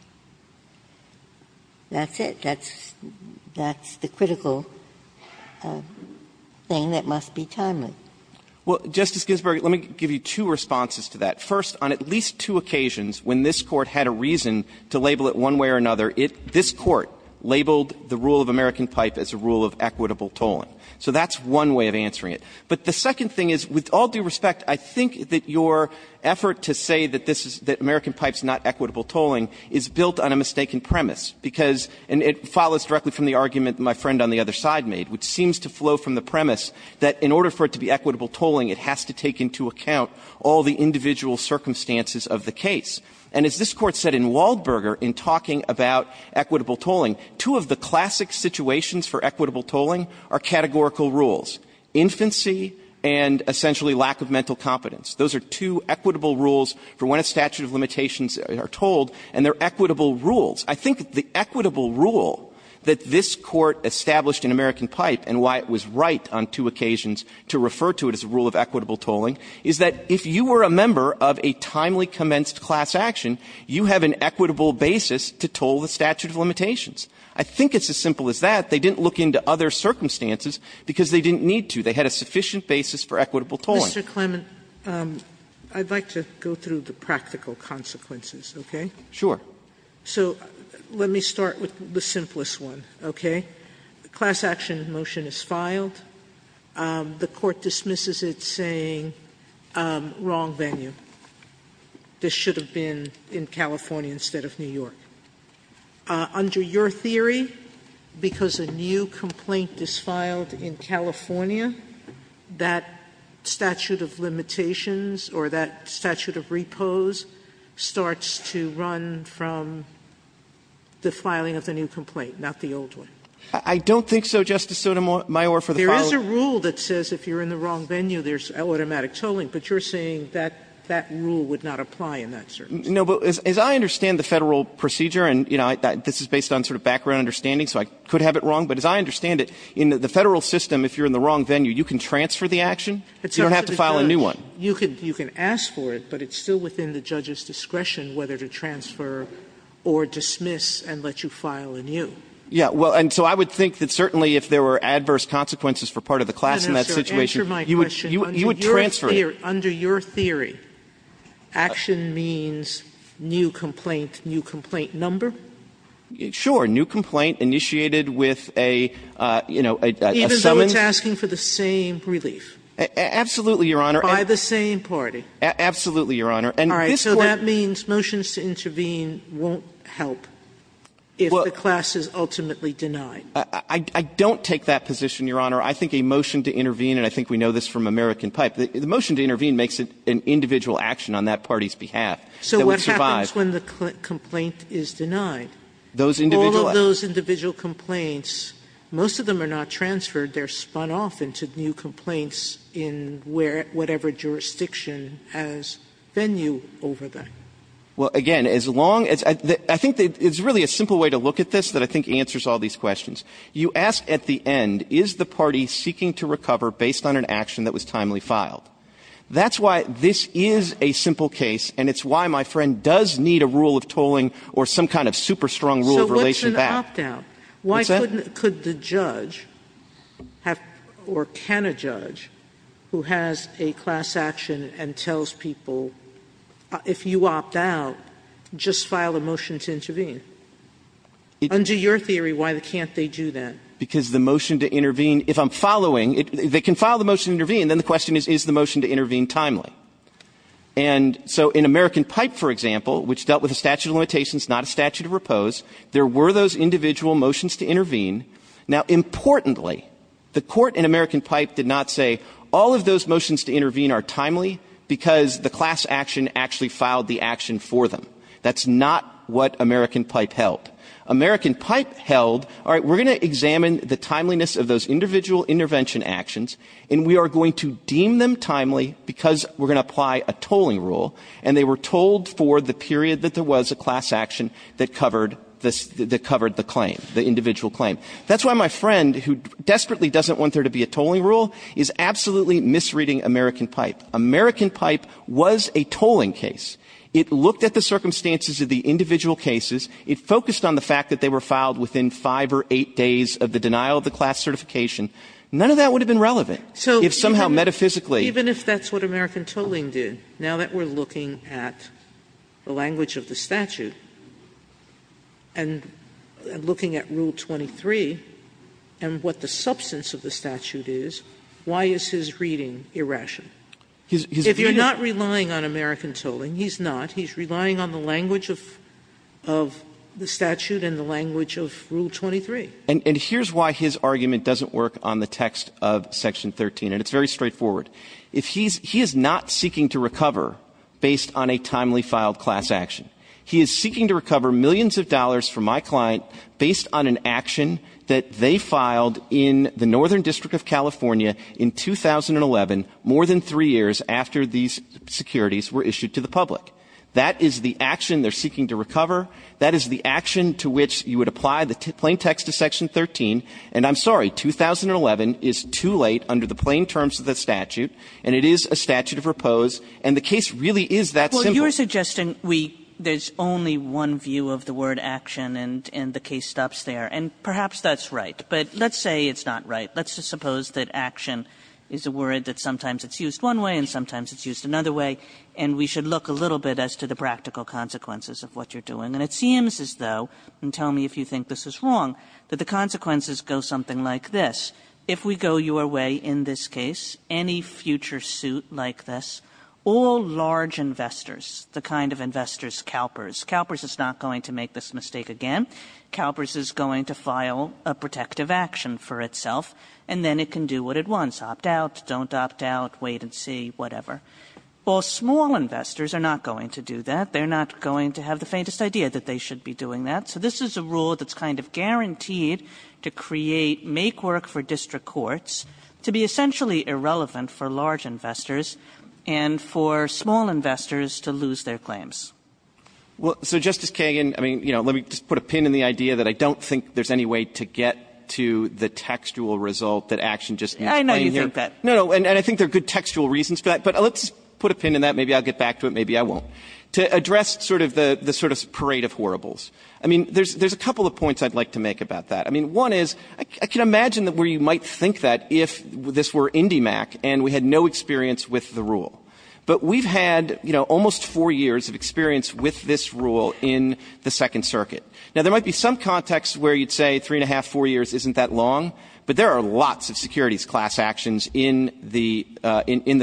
that's it. That's the critical thing that must be timely. Well, Justice Ginsburg, let me give you two responses to that. First, on at least two occasions when this Court had a reason to label it one way or another, this Court labeled the rule of American Pipe as a rule of equitable tolling. So that's one way of answering it. But the second thing is, with all due respect, I think that your effort to say that this is the American Pipe is not equitable tolling is built on a mistaken premise, because and it follows directly from the argument my friend on the other side made, which seems to flow from the premise that in order for it to be equitable tolling, it has to take into account all the individual circumstances of the case. And as this Court said in Waldberger in talking about equitable tolling, two of the categorical rules, infancy and essentially lack of mental competence, those are two equitable rules for when a statute of limitations are tolled, and they're equitable rules. I think the equitable rule that this Court established in American Pipe and why it was right on two occasions to refer to it as a rule of equitable tolling, is that if you were a member of a timely commenced class action, you have an equitable basis to toll the statute of limitations. I think it's as simple as that. They didn't look into other circumstances because they didn't need to. They had a sufficient basis for equitable tolling. Sotomayor, I'd like to go through the practical consequences, okay? Clement, so let me start with the simplest one, okay? The class action motion is filed. The Court dismisses it saying, wrong venue. This should have been in California instead of New York. Under your theory, because a new complaint is filed in California, that statute of limitations or that statute of repose starts to run from the filing of the new complaint, not the old one? Clement, I don't think so, Justice Sotomayor, for the following reasons. There is a rule that says if you're in the wrong venue, there's automatic tolling, but you're saying that that rule would not apply in that circumstance. No, but as I understand the Federal procedure, and, you know, this is based on sort of background understanding, so I could have it wrong, but as I understand it, in the Federal system, if you're in the wrong venue, you can transfer the action. You don't have to file a new one. You can ask for it, but it's still within the judge's discretion whether to transfer or dismiss and let you file a new. Yeah. Well, and so I would think that certainly if there were adverse consequences for part of the class in that situation, you would transfer it. Sotomayor, action means new complaint, new complaint number? Sure. New complaint initiated with a, you know, a summoned. Even though it's asking for the same relief? Absolutely, Your Honor. By the same party? Absolutely, Your Honor. And this Court All right. So that means motions to intervene won't help if the class is ultimately denied? I don't take that position, Your Honor. I think a motion to intervene, and I think we know this from American Pipe, the motion to intervene makes it an individual action on that party's behalf that would survive. So what happens when the complaint is denied? Those individual All of those individual complaints, most of them are not transferred. They're spun off into new complaints in whatever jurisdiction has venue over them. Well, again, as long as the – I think it's really a simple way to look at this that I think answers all these questions. You ask at the end, is the party seeking to recover based on an action that was timely filed? That's why this is a simple case, and it's why my friend does need a rule of tolling or some kind of super strong rule of relation to that. So what's an opt-out? What's that? Why couldn't – could the judge have – or can a judge who has a class action and tells people, if you opt out, just file a motion to intervene? Under your theory, why can't they do that? Because the motion to intervene, if I'm following – they can file the motion to is the motion to intervene timely. And so in American Pipe, for example, which dealt with a statute of limitations, not a statute of repose, there were those individual motions to intervene. Now importantly, the court in American Pipe did not say, all of those motions to intervene are timely because the class action actually filed the action for them. That's not what American Pipe held. American Pipe held, all right, we're going to examine the timeliness of those individual intervention actions, and we are going to deem them timely because we're going to apply a tolling rule. And they were told for the period that there was a class action that covered the claim, the individual claim. That's why my friend, who desperately doesn't want there to be a tolling rule, is absolutely misreading American Pipe. American Pipe was a tolling case. It looked at the circumstances of the individual cases. It focused on the fact that they were filed within five or eight days of the denial of class certification. None of that would have been relevant if somehow metaphysically. Sotomayor, even if that's what American Tolling did, now that we're looking at the language of the statute and looking at Rule 23 and what the substance of the statute is, why is his reading irrational? If you're not relying on American Tolling, he's not, he's relying on the language of the statute and the language of Rule 23. And here's why his argument doesn't work on the text of Section 13, and it's very straightforward. If he's, he is not seeking to recover based on a timely filed class action. He is seeking to recover millions of dollars from my client based on an action that they filed in the Northern District of California in 2011, more than three years after these securities were issued to the public. That is the action they're seeking to recover. That is the action to which you would apply the plain text of Section 13. And I'm sorry, 2011 is too late under the plain terms of the statute, and it is a statute of repose, and the case really is that simple. Kagan. Well, you're suggesting we, there's only one view of the word action, and the case stops there. And perhaps that's right, but let's say it's not right. Let's just suppose that action is a word that sometimes it's used one way and sometimes it's used another way. And if you're going to do that, you're going to have to look at the consequences of what you're doing. And it seems as though, and tell me if you think this is wrong, that the consequences go something like this. If we go your way in this case, any future suit like this, all large investors, the kind of investors, CalPERS, CalPERS is not going to make this mistake again. CalPERS is going to file a protective action for itself, and then it can do what it wants. Opt out, don't opt out, wait and see, whatever. Well, small investors are not going to do that. They're not going to have the faintest idea that they should be doing that. So this is a rule that's kind of guaranteed to create make-work for district courts to be essentially irrelevant for large investors and for small investors to lose their claims. Well, so, Justice Kagan, I mean, you know, let me just put a pin in the idea that I don't think there's any way to get to the textual result that action just ends plainly like that. No, no, and I think there are good textual reasons for that. But let's put a pin in that. Maybe I'll get back to it. Maybe I won't. To address sort of the sort of parade of horribles, I mean, there's a couple of points I'd like to make about that. I mean, one is, I can imagine that where you might think that if this were IndyMac and we had no experience with the rule, but we've had, you know, almost four years of experience with this rule in the Second Circuit. Now, there might be some context where you'd say three and a half, four years isn't that long, but there are lots of securities class actions in the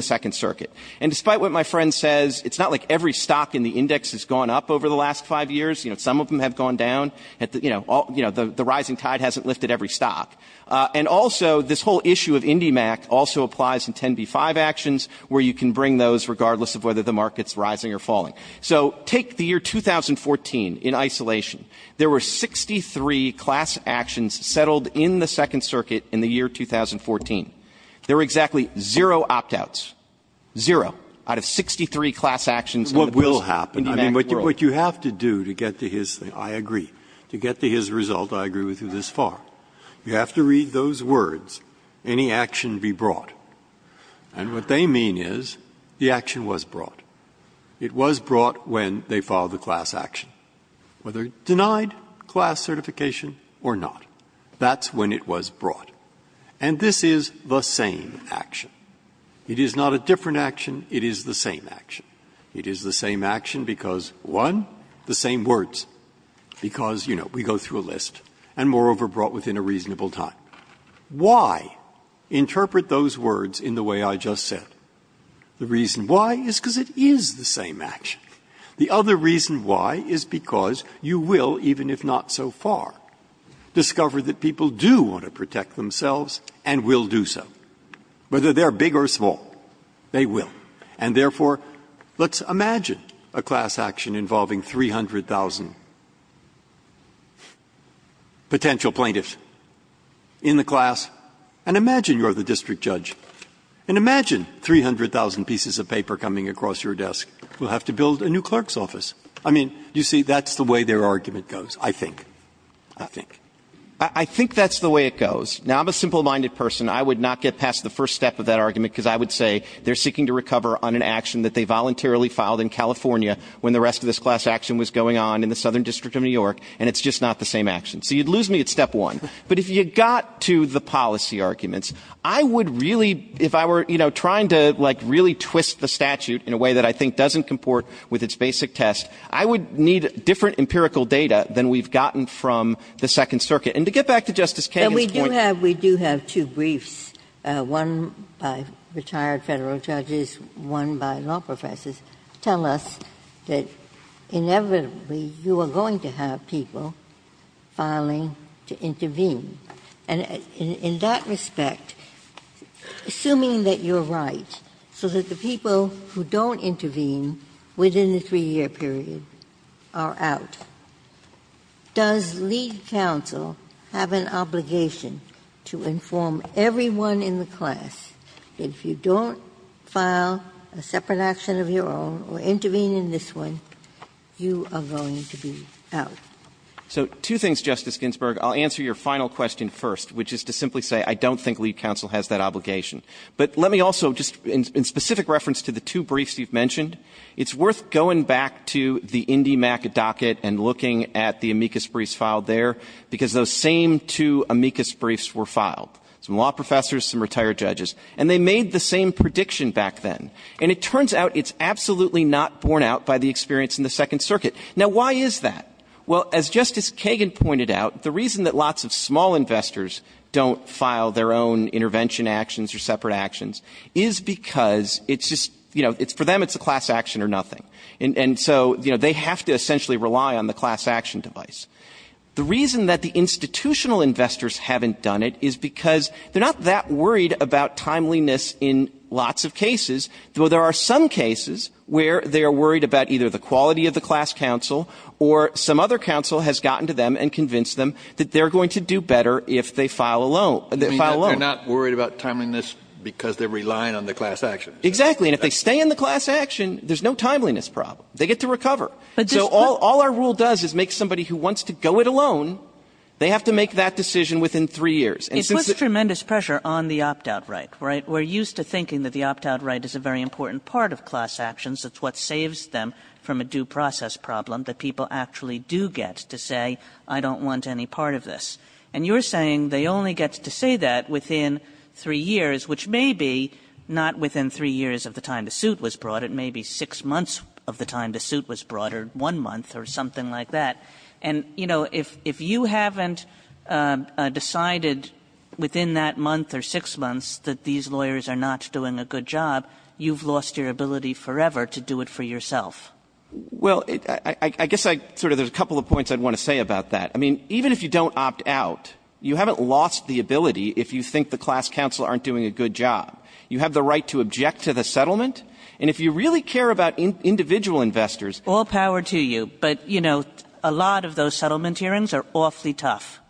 Second Circuit. And despite what my friend says, it's not like every stock in the index has gone up over the last five years. You know, some of them have gone down, you know, the rising tide hasn't lifted every stock. And also, this whole issue of IndyMac also applies in 10b5 actions where you can bring those regardless of whether the market's rising or falling. So take the year 2014 in isolation. There were 63 class actions settled in the Second Circuit in the year 2014. There were exactly zero opt-outs, zero out of 63 class actions in the IndyMac world. Breyer. What you have to do to get to his thing, I agree, to get to his result, I agree with you this far, you have to read those words, any action be brought. And what they mean is the action was brought. It was brought when they filed the class action, whether denied class certification or not. That's when it was brought. And this is the same action. It is not a different action. It is the same action. It is the same action because, one, the same words, because, you know, we go through a list, and moreover, brought within a reasonable time. Why interpret those words in the way I just said? The reason why is because it is the same action. The other reason why is because you will, even if not so far, discover that people do want to protect themselves and will do so, whether they are big or small, they will. And therefore, let's imagine a class action involving 300,000 potential plaintiffs in the class. And imagine you are the district judge. And imagine 300,000 pieces of paper coming across your desk. We will have to build a new clerk's office. I mean, you see, that's the way their argument goes, I think. I think. I think that's the way it goes. Now, I'm a simple-minded person. I would not get past the first step of that argument because I would say they are seeking to recover on an action that they voluntarily filed in California when the rest of this class action was going on in the Southern District of New York, and it's just not the same action. So you would lose me at step one. But if you got to the policy arguments, I would really, if I were, you know, trying to, like, really twist the statute in a way that I think doesn't comport with its basic test, I would need different empirical data than we've gotten from the Second Circuit. And to get back to Justice Kagan's point — But we do have — we do have two briefs, one by retired Federal judges, one by law professors, tell us that, inevitably, you are going to have people filing to intervene. And in that respect, assuming that you're right, so that the people who don't intervene within the 3-year period are out, does lead counsel have an obligation to inform everyone in the class that if you don't file a separate action of your own or intervene in this one, you are going to be out? So two things, Justice Ginsburg. I'll answer your final question first, which is to simply say I don't think lead counsel has that obligation. But let me also, just in specific reference to the two briefs you've mentioned, it's worth going back to the IndyMAC docket and looking at the amicus briefs filed there, because those same two amicus briefs were filed, some law professors, some retired judges. And they made the same prediction back then. And it turns out it's absolutely not borne out by the experience in the Second Circuit. Now, why is that? Well, as Justice Kagan pointed out, the reason that lots of small investors don't file their own intervention actions or separate actions is because it's just you know, for them it's a class action or nothing. And so, you know, they have to essentially rely on the class action device. The reason that the institutional investors haven't done it is because they're not that worried about timeliness in lots of cases, though there are some cases where they are worried about either the quality of the class counsel or some other counsel has gotten to them and convinced them that they're going to do better if they file a loan. They file a loan. They're not worried about timeliness because they're relying on the class action. Exactly. And if they stay in the class action, there's no timeliness problem. They get to recover. So all our rule does is make somebody who wants to go it alone, they have to make that decision within three years. It puts tremendous pressure on the opt-out right, right? But we're used to thinking that the opt-out right is a very important part of class actions. It's what saves them from a due process problem, that people actually do get to say I don't want any part of this. And you're saying they only get to say that within three years, which may be not within three years of the time the suit was brought. It may be six months of the time the suit was brought or one month or something like that. And, you know, if you haven't decided within that month or six months that these lawyers are not doing a good job, you've lost your ability forever to do it for yourself. Well, I guess I sort of there's a couple of points I'd want to say about that. I mean, even if you don't opt out, you haven't lost the ability if you think the class counsel aren't doing a good job. You have the right to object to the settlement. And if you really care about individual investors. All power to you. But, you know, a lot of those settlement hearings are awfully tough.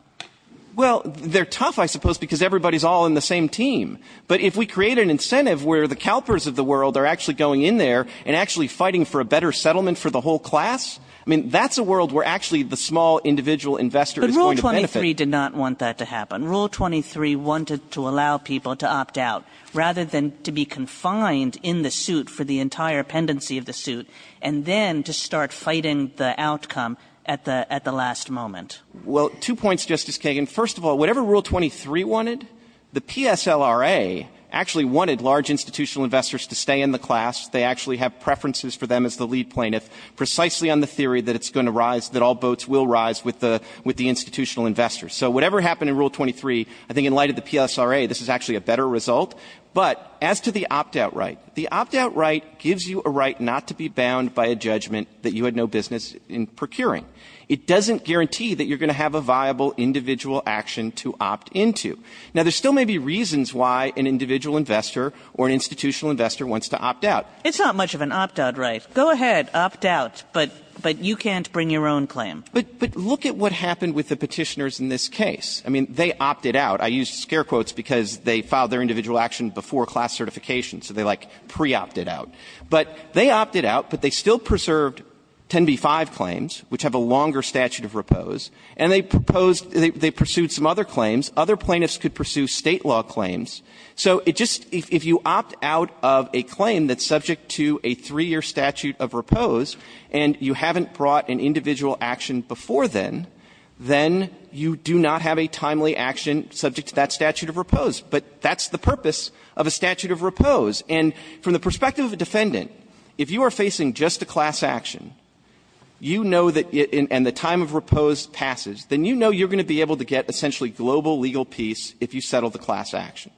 Well, they're tough, I suppose, because everybody's all in the same team. But if we create an incentive where the CalPERS of the world are actually going in there and actually fighting for a better settlement for the whole class, I mean, that's a world where actually the small individual investor is going to benefit. But Rule 23 did not want that to happen. Rule 23 wanted to allow people to opt out rather than to be confined in the suit for the entire pendency of the suit and then to start fighting the outcome at the last moment. Well, two points, Justice Kagan. First of all, whatever Rule 23 wanted, the PSLRA actually wanted large institutional investors to stay in the class. They actually have preferences for them as the lead plaintiff precisely on the theory that it's going to rise, that all boats will rise with the institutional investors. So whatever happened in Rule 23, I think in light of the PSRA, this is actually a better result. But as to the opt-out right, the opt-out right gives you a right not to be bound by a judgment that you had no business in procuring. It doesn't guarantee that you're going to have a viable individual action to opt into. Now, there still may be reasons why an individual investor or an institutional investor wants to opt out. It's not much of an opt-out right. Go ahead, opt out, but you can't bring your own claim. But look at what happened with the petitioners in this case. I mean, they opted out. I used scare quotes because they filed their individual action before class certification, so they, like, pre-opted out. But they opted out, but they still preserved 10b-5 claims, which have a longer statute of repose, and they proposed, they pursued some other claims. Other plaintiffs could pursue State law claims. So it just, if you opt out of a claim that's subject to a three-year statute of repose and you haven't brought an individual action before then, then you do not have a timely action subject to that statute of repose. But that's the purpose of a statute of repose. And from the perspective of a defendant, if you are facing just a class action and the time of repose passes, then you know you're going to be able to get essentially global legal peace if you settle the class action.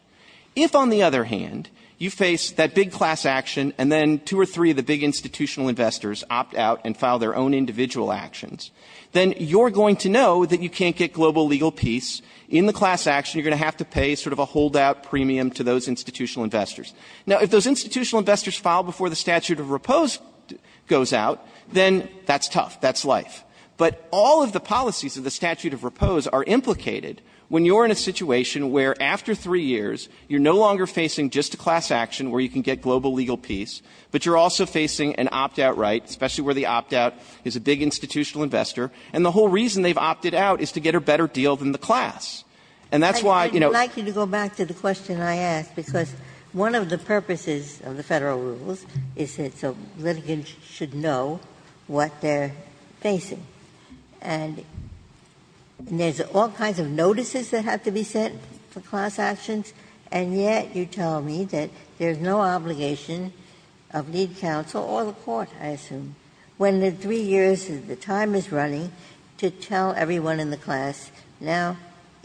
If, on the other hand, you face that big class action and then two or three of the big institutional investors opt out and file their own individual actions, then you're going to know that you can't get global legal peace. In the class action, you're going to have to pay sort of a holdout premium to those institutional investors. Now, if those institutional investors file before the statute of repose goes out, then that's tough. That's life. But all of the policies of the statute of repose are implicated when you're in a situation where, after three years, you're no longer facing just a class action where you can get global legal peace, but you're also facing an opt-out right, especially where the opt-out is a big institutional investor. And the whole reason they've opted out is to get a better deal than the class. And that's why, you know ---- And one of the purposes of the Federal rules is that the litigants should know what they're facing. And there's all kinds of notices that have to be sent for class actions, and yet you tell me that there's no obligation of lead counsel or the court, I assume, when in three years the time is running to tell everyone in the class, now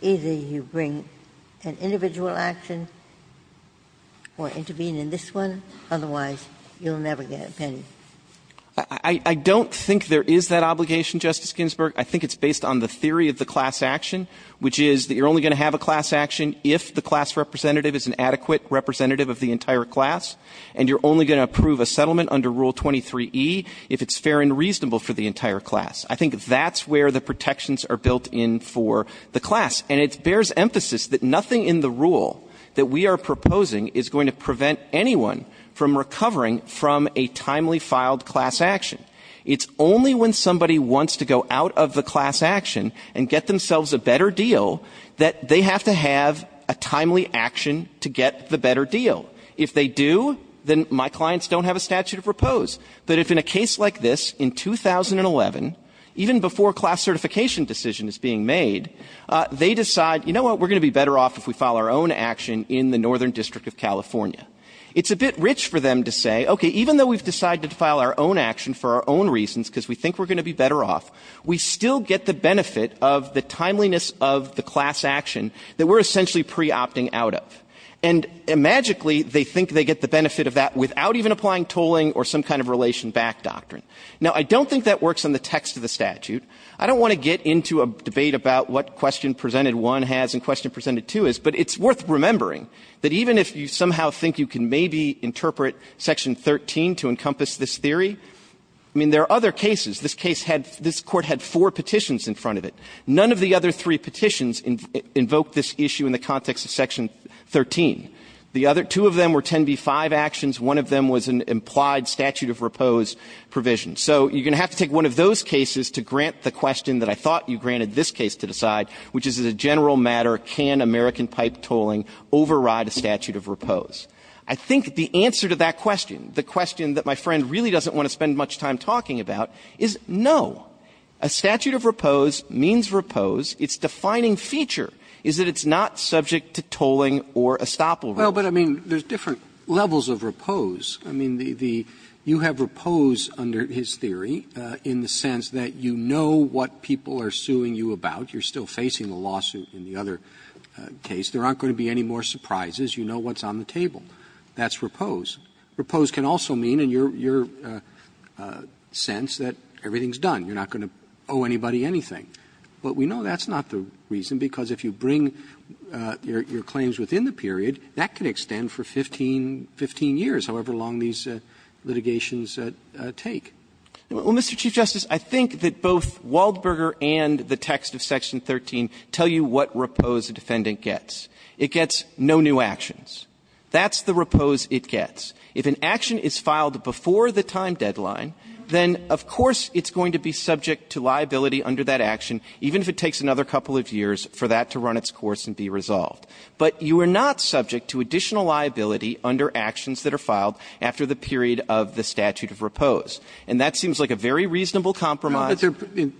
either you bring an individual action or intervene in this one. Otherwise, you'll never get a penny. I don't think there is that obligation, Justice Ginsburg. I think it's based on the theory of the class action, which is that you're only going to have a class action if the class representative is an adequate representative of the entire class. And you're only going to approve a settlement under Rule 23E if it's fair and reasonable for the entire class. I think that's where the protections are built in for the class. And it bears emphasis that nothing in the rule that we are proposing is going to prevent anyone from recovering from a timely filed class action. It's only when somebody wants to go out of the class action and get themselves a better deal that they have to have a timely action to get the better deal. If they do, then my clients don't have a statute of repose. But if in a case like this in 2011, even before a class certification decision is being made, they decide, you know what, we're going to be better off if we file our own action in the Northern District of California. It's a bit rich for them to say, okay, even though we've decided to file our own action for our own reasons because we think we're going to be better off, we still get the benefit of the timeliness of the class action that we're essentially pre-opting out of. And magically, they think they get the benefit of that without even applying tolling or some kind of relation back doctrine. Now, I don't think that works in the text of the statute. I don't want to get into a debate about what Question Presented 1 has and Question Presented 2 is, but it's worth remembering that even if you somehow think you can maybe interpret Section 13 to encompass this theory, I mean, there are other cases. This case had this Court had four petitions in front of it. None of the other three petitions invoked this issue in the context of Section 13. The other two of them were 10b-5 actions. One of them was an implied statute of repose provision. So you're going to have to take one of those cases to grant the question that I thought you granted this case to decide, which is, as a general matter, can American pipe tolling override a statute of repose? I think the answer to that question, the question that my friend really doesn't want to spend much time talking about, is no. A statute of repose means repose. Its defining feature is that it's not subject to tolling or estoppel. Roberts. Robertsperoip, You have repose under his theory in the sense that you know what people are suing you about. You're still facing a lawsuit in the other case. There aren't going to be any more surprises. You know what's on the table. That's repose. Repelled can also mean in your sense that everything is done. You're not going to owe anybody anything. But we know that's not the reason, because if you bring your claims within the period, that can extend for 15 years, however long these litigations take. Clements, Well, Mr. Chief Justice, I think that both Waldberger and the text of Section 13 tell you what repose a defendant gets. It gets no new actions. That's the repose it gets. If an action is filed before the time deadline, then of course it's going to be subject to liability under that action, even if it takes another couple of years for that to run its course and be resolved. But you are not subject to additional liability under actions that are filed after the period of the statute of repose. And that seems like a very reasonable compromise. Robertsperiup,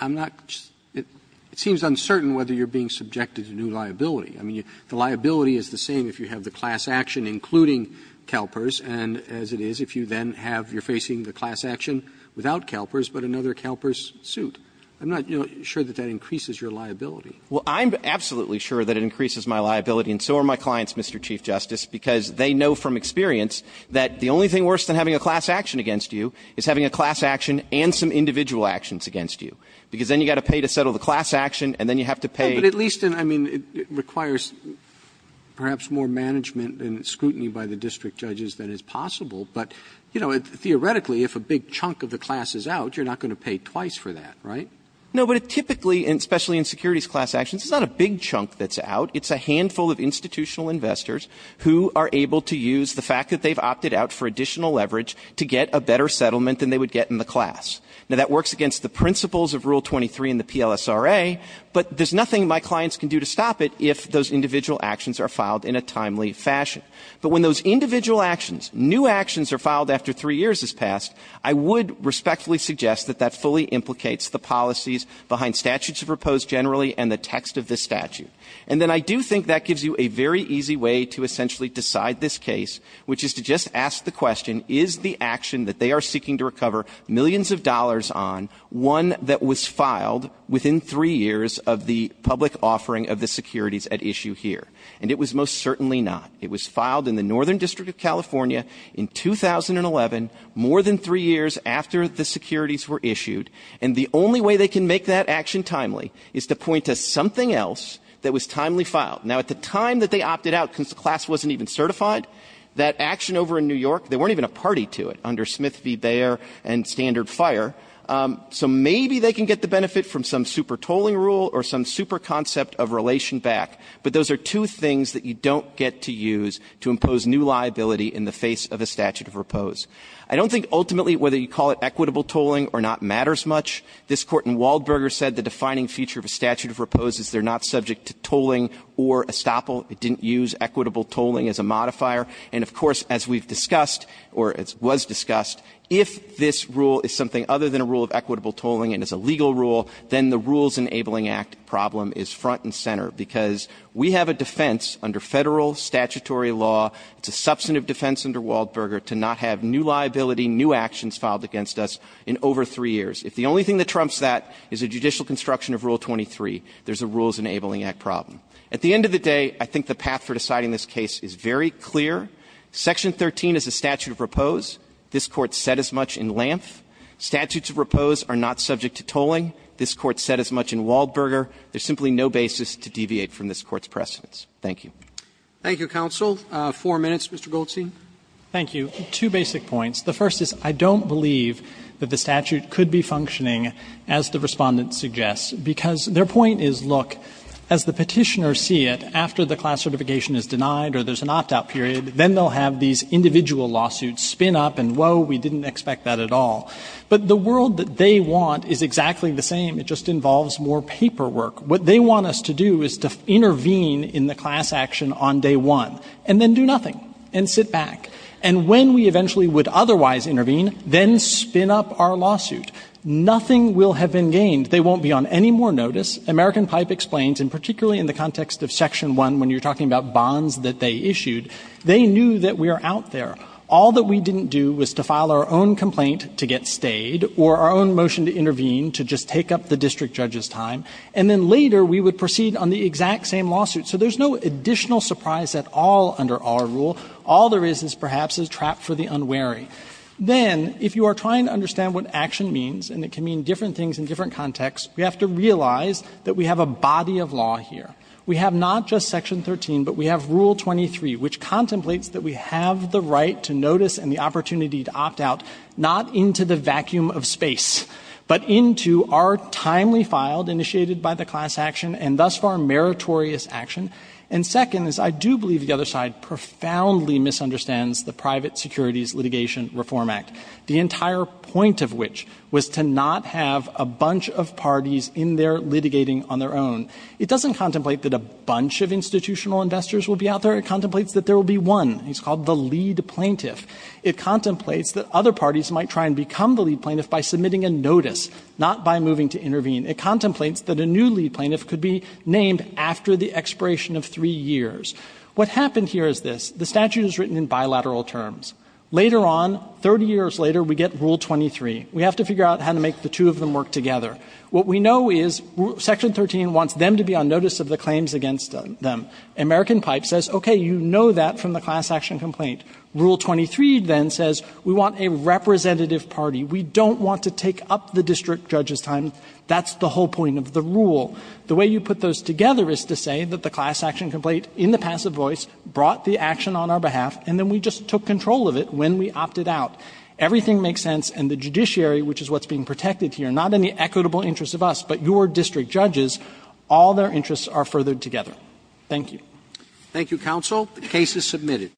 I'm not just – it seems uncertain whether you're being subjected to new liability. I mean, the liability is the same if you have the class action including CalPERS, and as it is if you then have – you're facing the class action without CalPERS, but another CalPERS suit. I'm not sure that that increases your liability. Clements, Well, I'm absolutely sure that it increases my liability, and so are my clients, Mr. Chief Justice, because they know from experience that the only thing worse than having a class action against you is having a class action and some individual actions against you, because then you've got to pay to settle the class action, and then you have to pay – Roberts, But at least – I mean, it requires perhaps more management and scrutiny by the district judges than is possible, but, you know, theoretically, if a big chunk of the class is out, you're not going to pay twice for that, right? Clements, No, but it typically – and especially in securities class actions, it's not a big chunk that's out. It's a handful of institutional investors who are able to use the fact that they've opted out for additional leverage to get a better settlement than they would get in the class. Now, that works against the principles of Rule 23 in the PLSRA, but there's nothing my clients can do to stop it if those individual actions are filed in a timely fashion. I would respectfully suggest that that fully implicates the policies behind statutes proposed generally and the text of this statute. And then I do think that gives you a very easy way to essentially decide this case, which is to just ask the question, is the action that they are seeking to recover millions of dollars on one that was filed within three years of the public offering of the securities at issue here? And it was most certainly not. It was filed in the Northern District of California in 2011, more than three years after the securities were issued. And the only way they can make that action timely is to point to something else that was timely filed. Now, at the time that they opted out, because the class wasn't even certified, that action over in New York, there weren't even a party to it under Smith v. Bayer and standard fire. So maybe they can get the benefit from some super tolling rule or some super concept of relation back. But those are two things that you don't get to use to impose new liability in the face of a statute of repose. I don't think ultimately whether you call it equitable tolling or not matters much. This Court in Waldberger said the defining feature of a statute of repose is they are not subject to tolling or estoppel. It didn't use equitable tolling as a modifier. And of course, as we've discussed, or it was discussed, if this rule is something other than a rule of equitable tolling and is a legal rule, then the Rules Enabling Act problem is front and center. Because we have a defense under Federal statutory law. It's a substantive defense under Waldberger to not have new liability, new actions filed against us in over three years. If the only thing that trumps that is a judicial construction of Rule 23, there's a Rules Enabling Act problem. At the end of the day, I think the path for deciding this case is very clear. Section 13 is a statute of repose. This Court said as much in Lanth. Statutes of repose are not subject to tolling. This Court said as much in Waldberger. There's simply no basis to deviate from this Court's precedents. Thank you. Roberts. Thank you, counsel. Four minutes, Mr. Goldstein. Goldstein. Thank you. Two basic points. The first is I don't believe that the statute could be functioning as the Respondent suggests, because their point is, look, as the Petitioner see it, after the class certification is denied or there's an opt-out period, then they'll have these individual lawsuits spin up and, whoa, we didn't expect that at all. But the world that they want is exactly the same. It just involves more paperwork. What they want us to do is to intervene in the class action on day one and then do nothing and sit back. And when we eventually would otherwise intervene, then spin up our lawsuit. Nothing will have been gained. They won't be on any more notice. American Pipe explains, and particularly in the context of Section 1 when you're talking about bonds that they issued, they knew that we are out there. All that we didn't do was to file our own complaint to get stayed or our own motion to intervene to just take up the district judge's time. And then later we would proceed on the exact same lawsuit. So there's no additional surprise at all under our rule. All there is is perhaps is trap for the unwary. Then, if you are trying to understand what action means, and it can mean different things in different contexts, we have to realize that we have a body of law here. We have not just Section 13, but we have Rule 23, which contemplates that we have the right to notice and the opportunity to opt out, not into the vacuum of space, but into our timely filed, initiated by the class action, and thus far meritorious action. And second is I do believe the other side profoundly misunderstands the Private Securities Litigation Reform Act, the entire point of which was to not have a bunch of parties in there litigating on their own. It doesn't contemplate that a bunch of institutional investors will be out there. It contemplates that there will be one. It's called the lead plaintiff. It contemplates that other parties might try and become the lead plaintiff by submitting a notice, not by moving to intervene. It contemplates that a new lead plaintiff could be named after the expiration of three years. What happened here is this. The statute is written in bilateral terms. Later on, 30 years later, we get Rule 23. We have to figure out how to make the two of them work together. What we know is Section 13 wants them to be on notice of the claims against them. American Pipe says, okay, you know that from the class action complaint. Rule 23 then says we want a representative party. We don't want to take up the district judge's time. That's the whole point of the rule. The way you put those together is to say that the class action complaint in the passive voice brought the action on our behalf, and then we just took control of it when we opted out. Everything makes sense, and the judiciary, which is what's being protected here, not in the equitable interest of us, but your district judges, all their interests are furthered together. Thank you. Thank you, counsel. The case is submitted.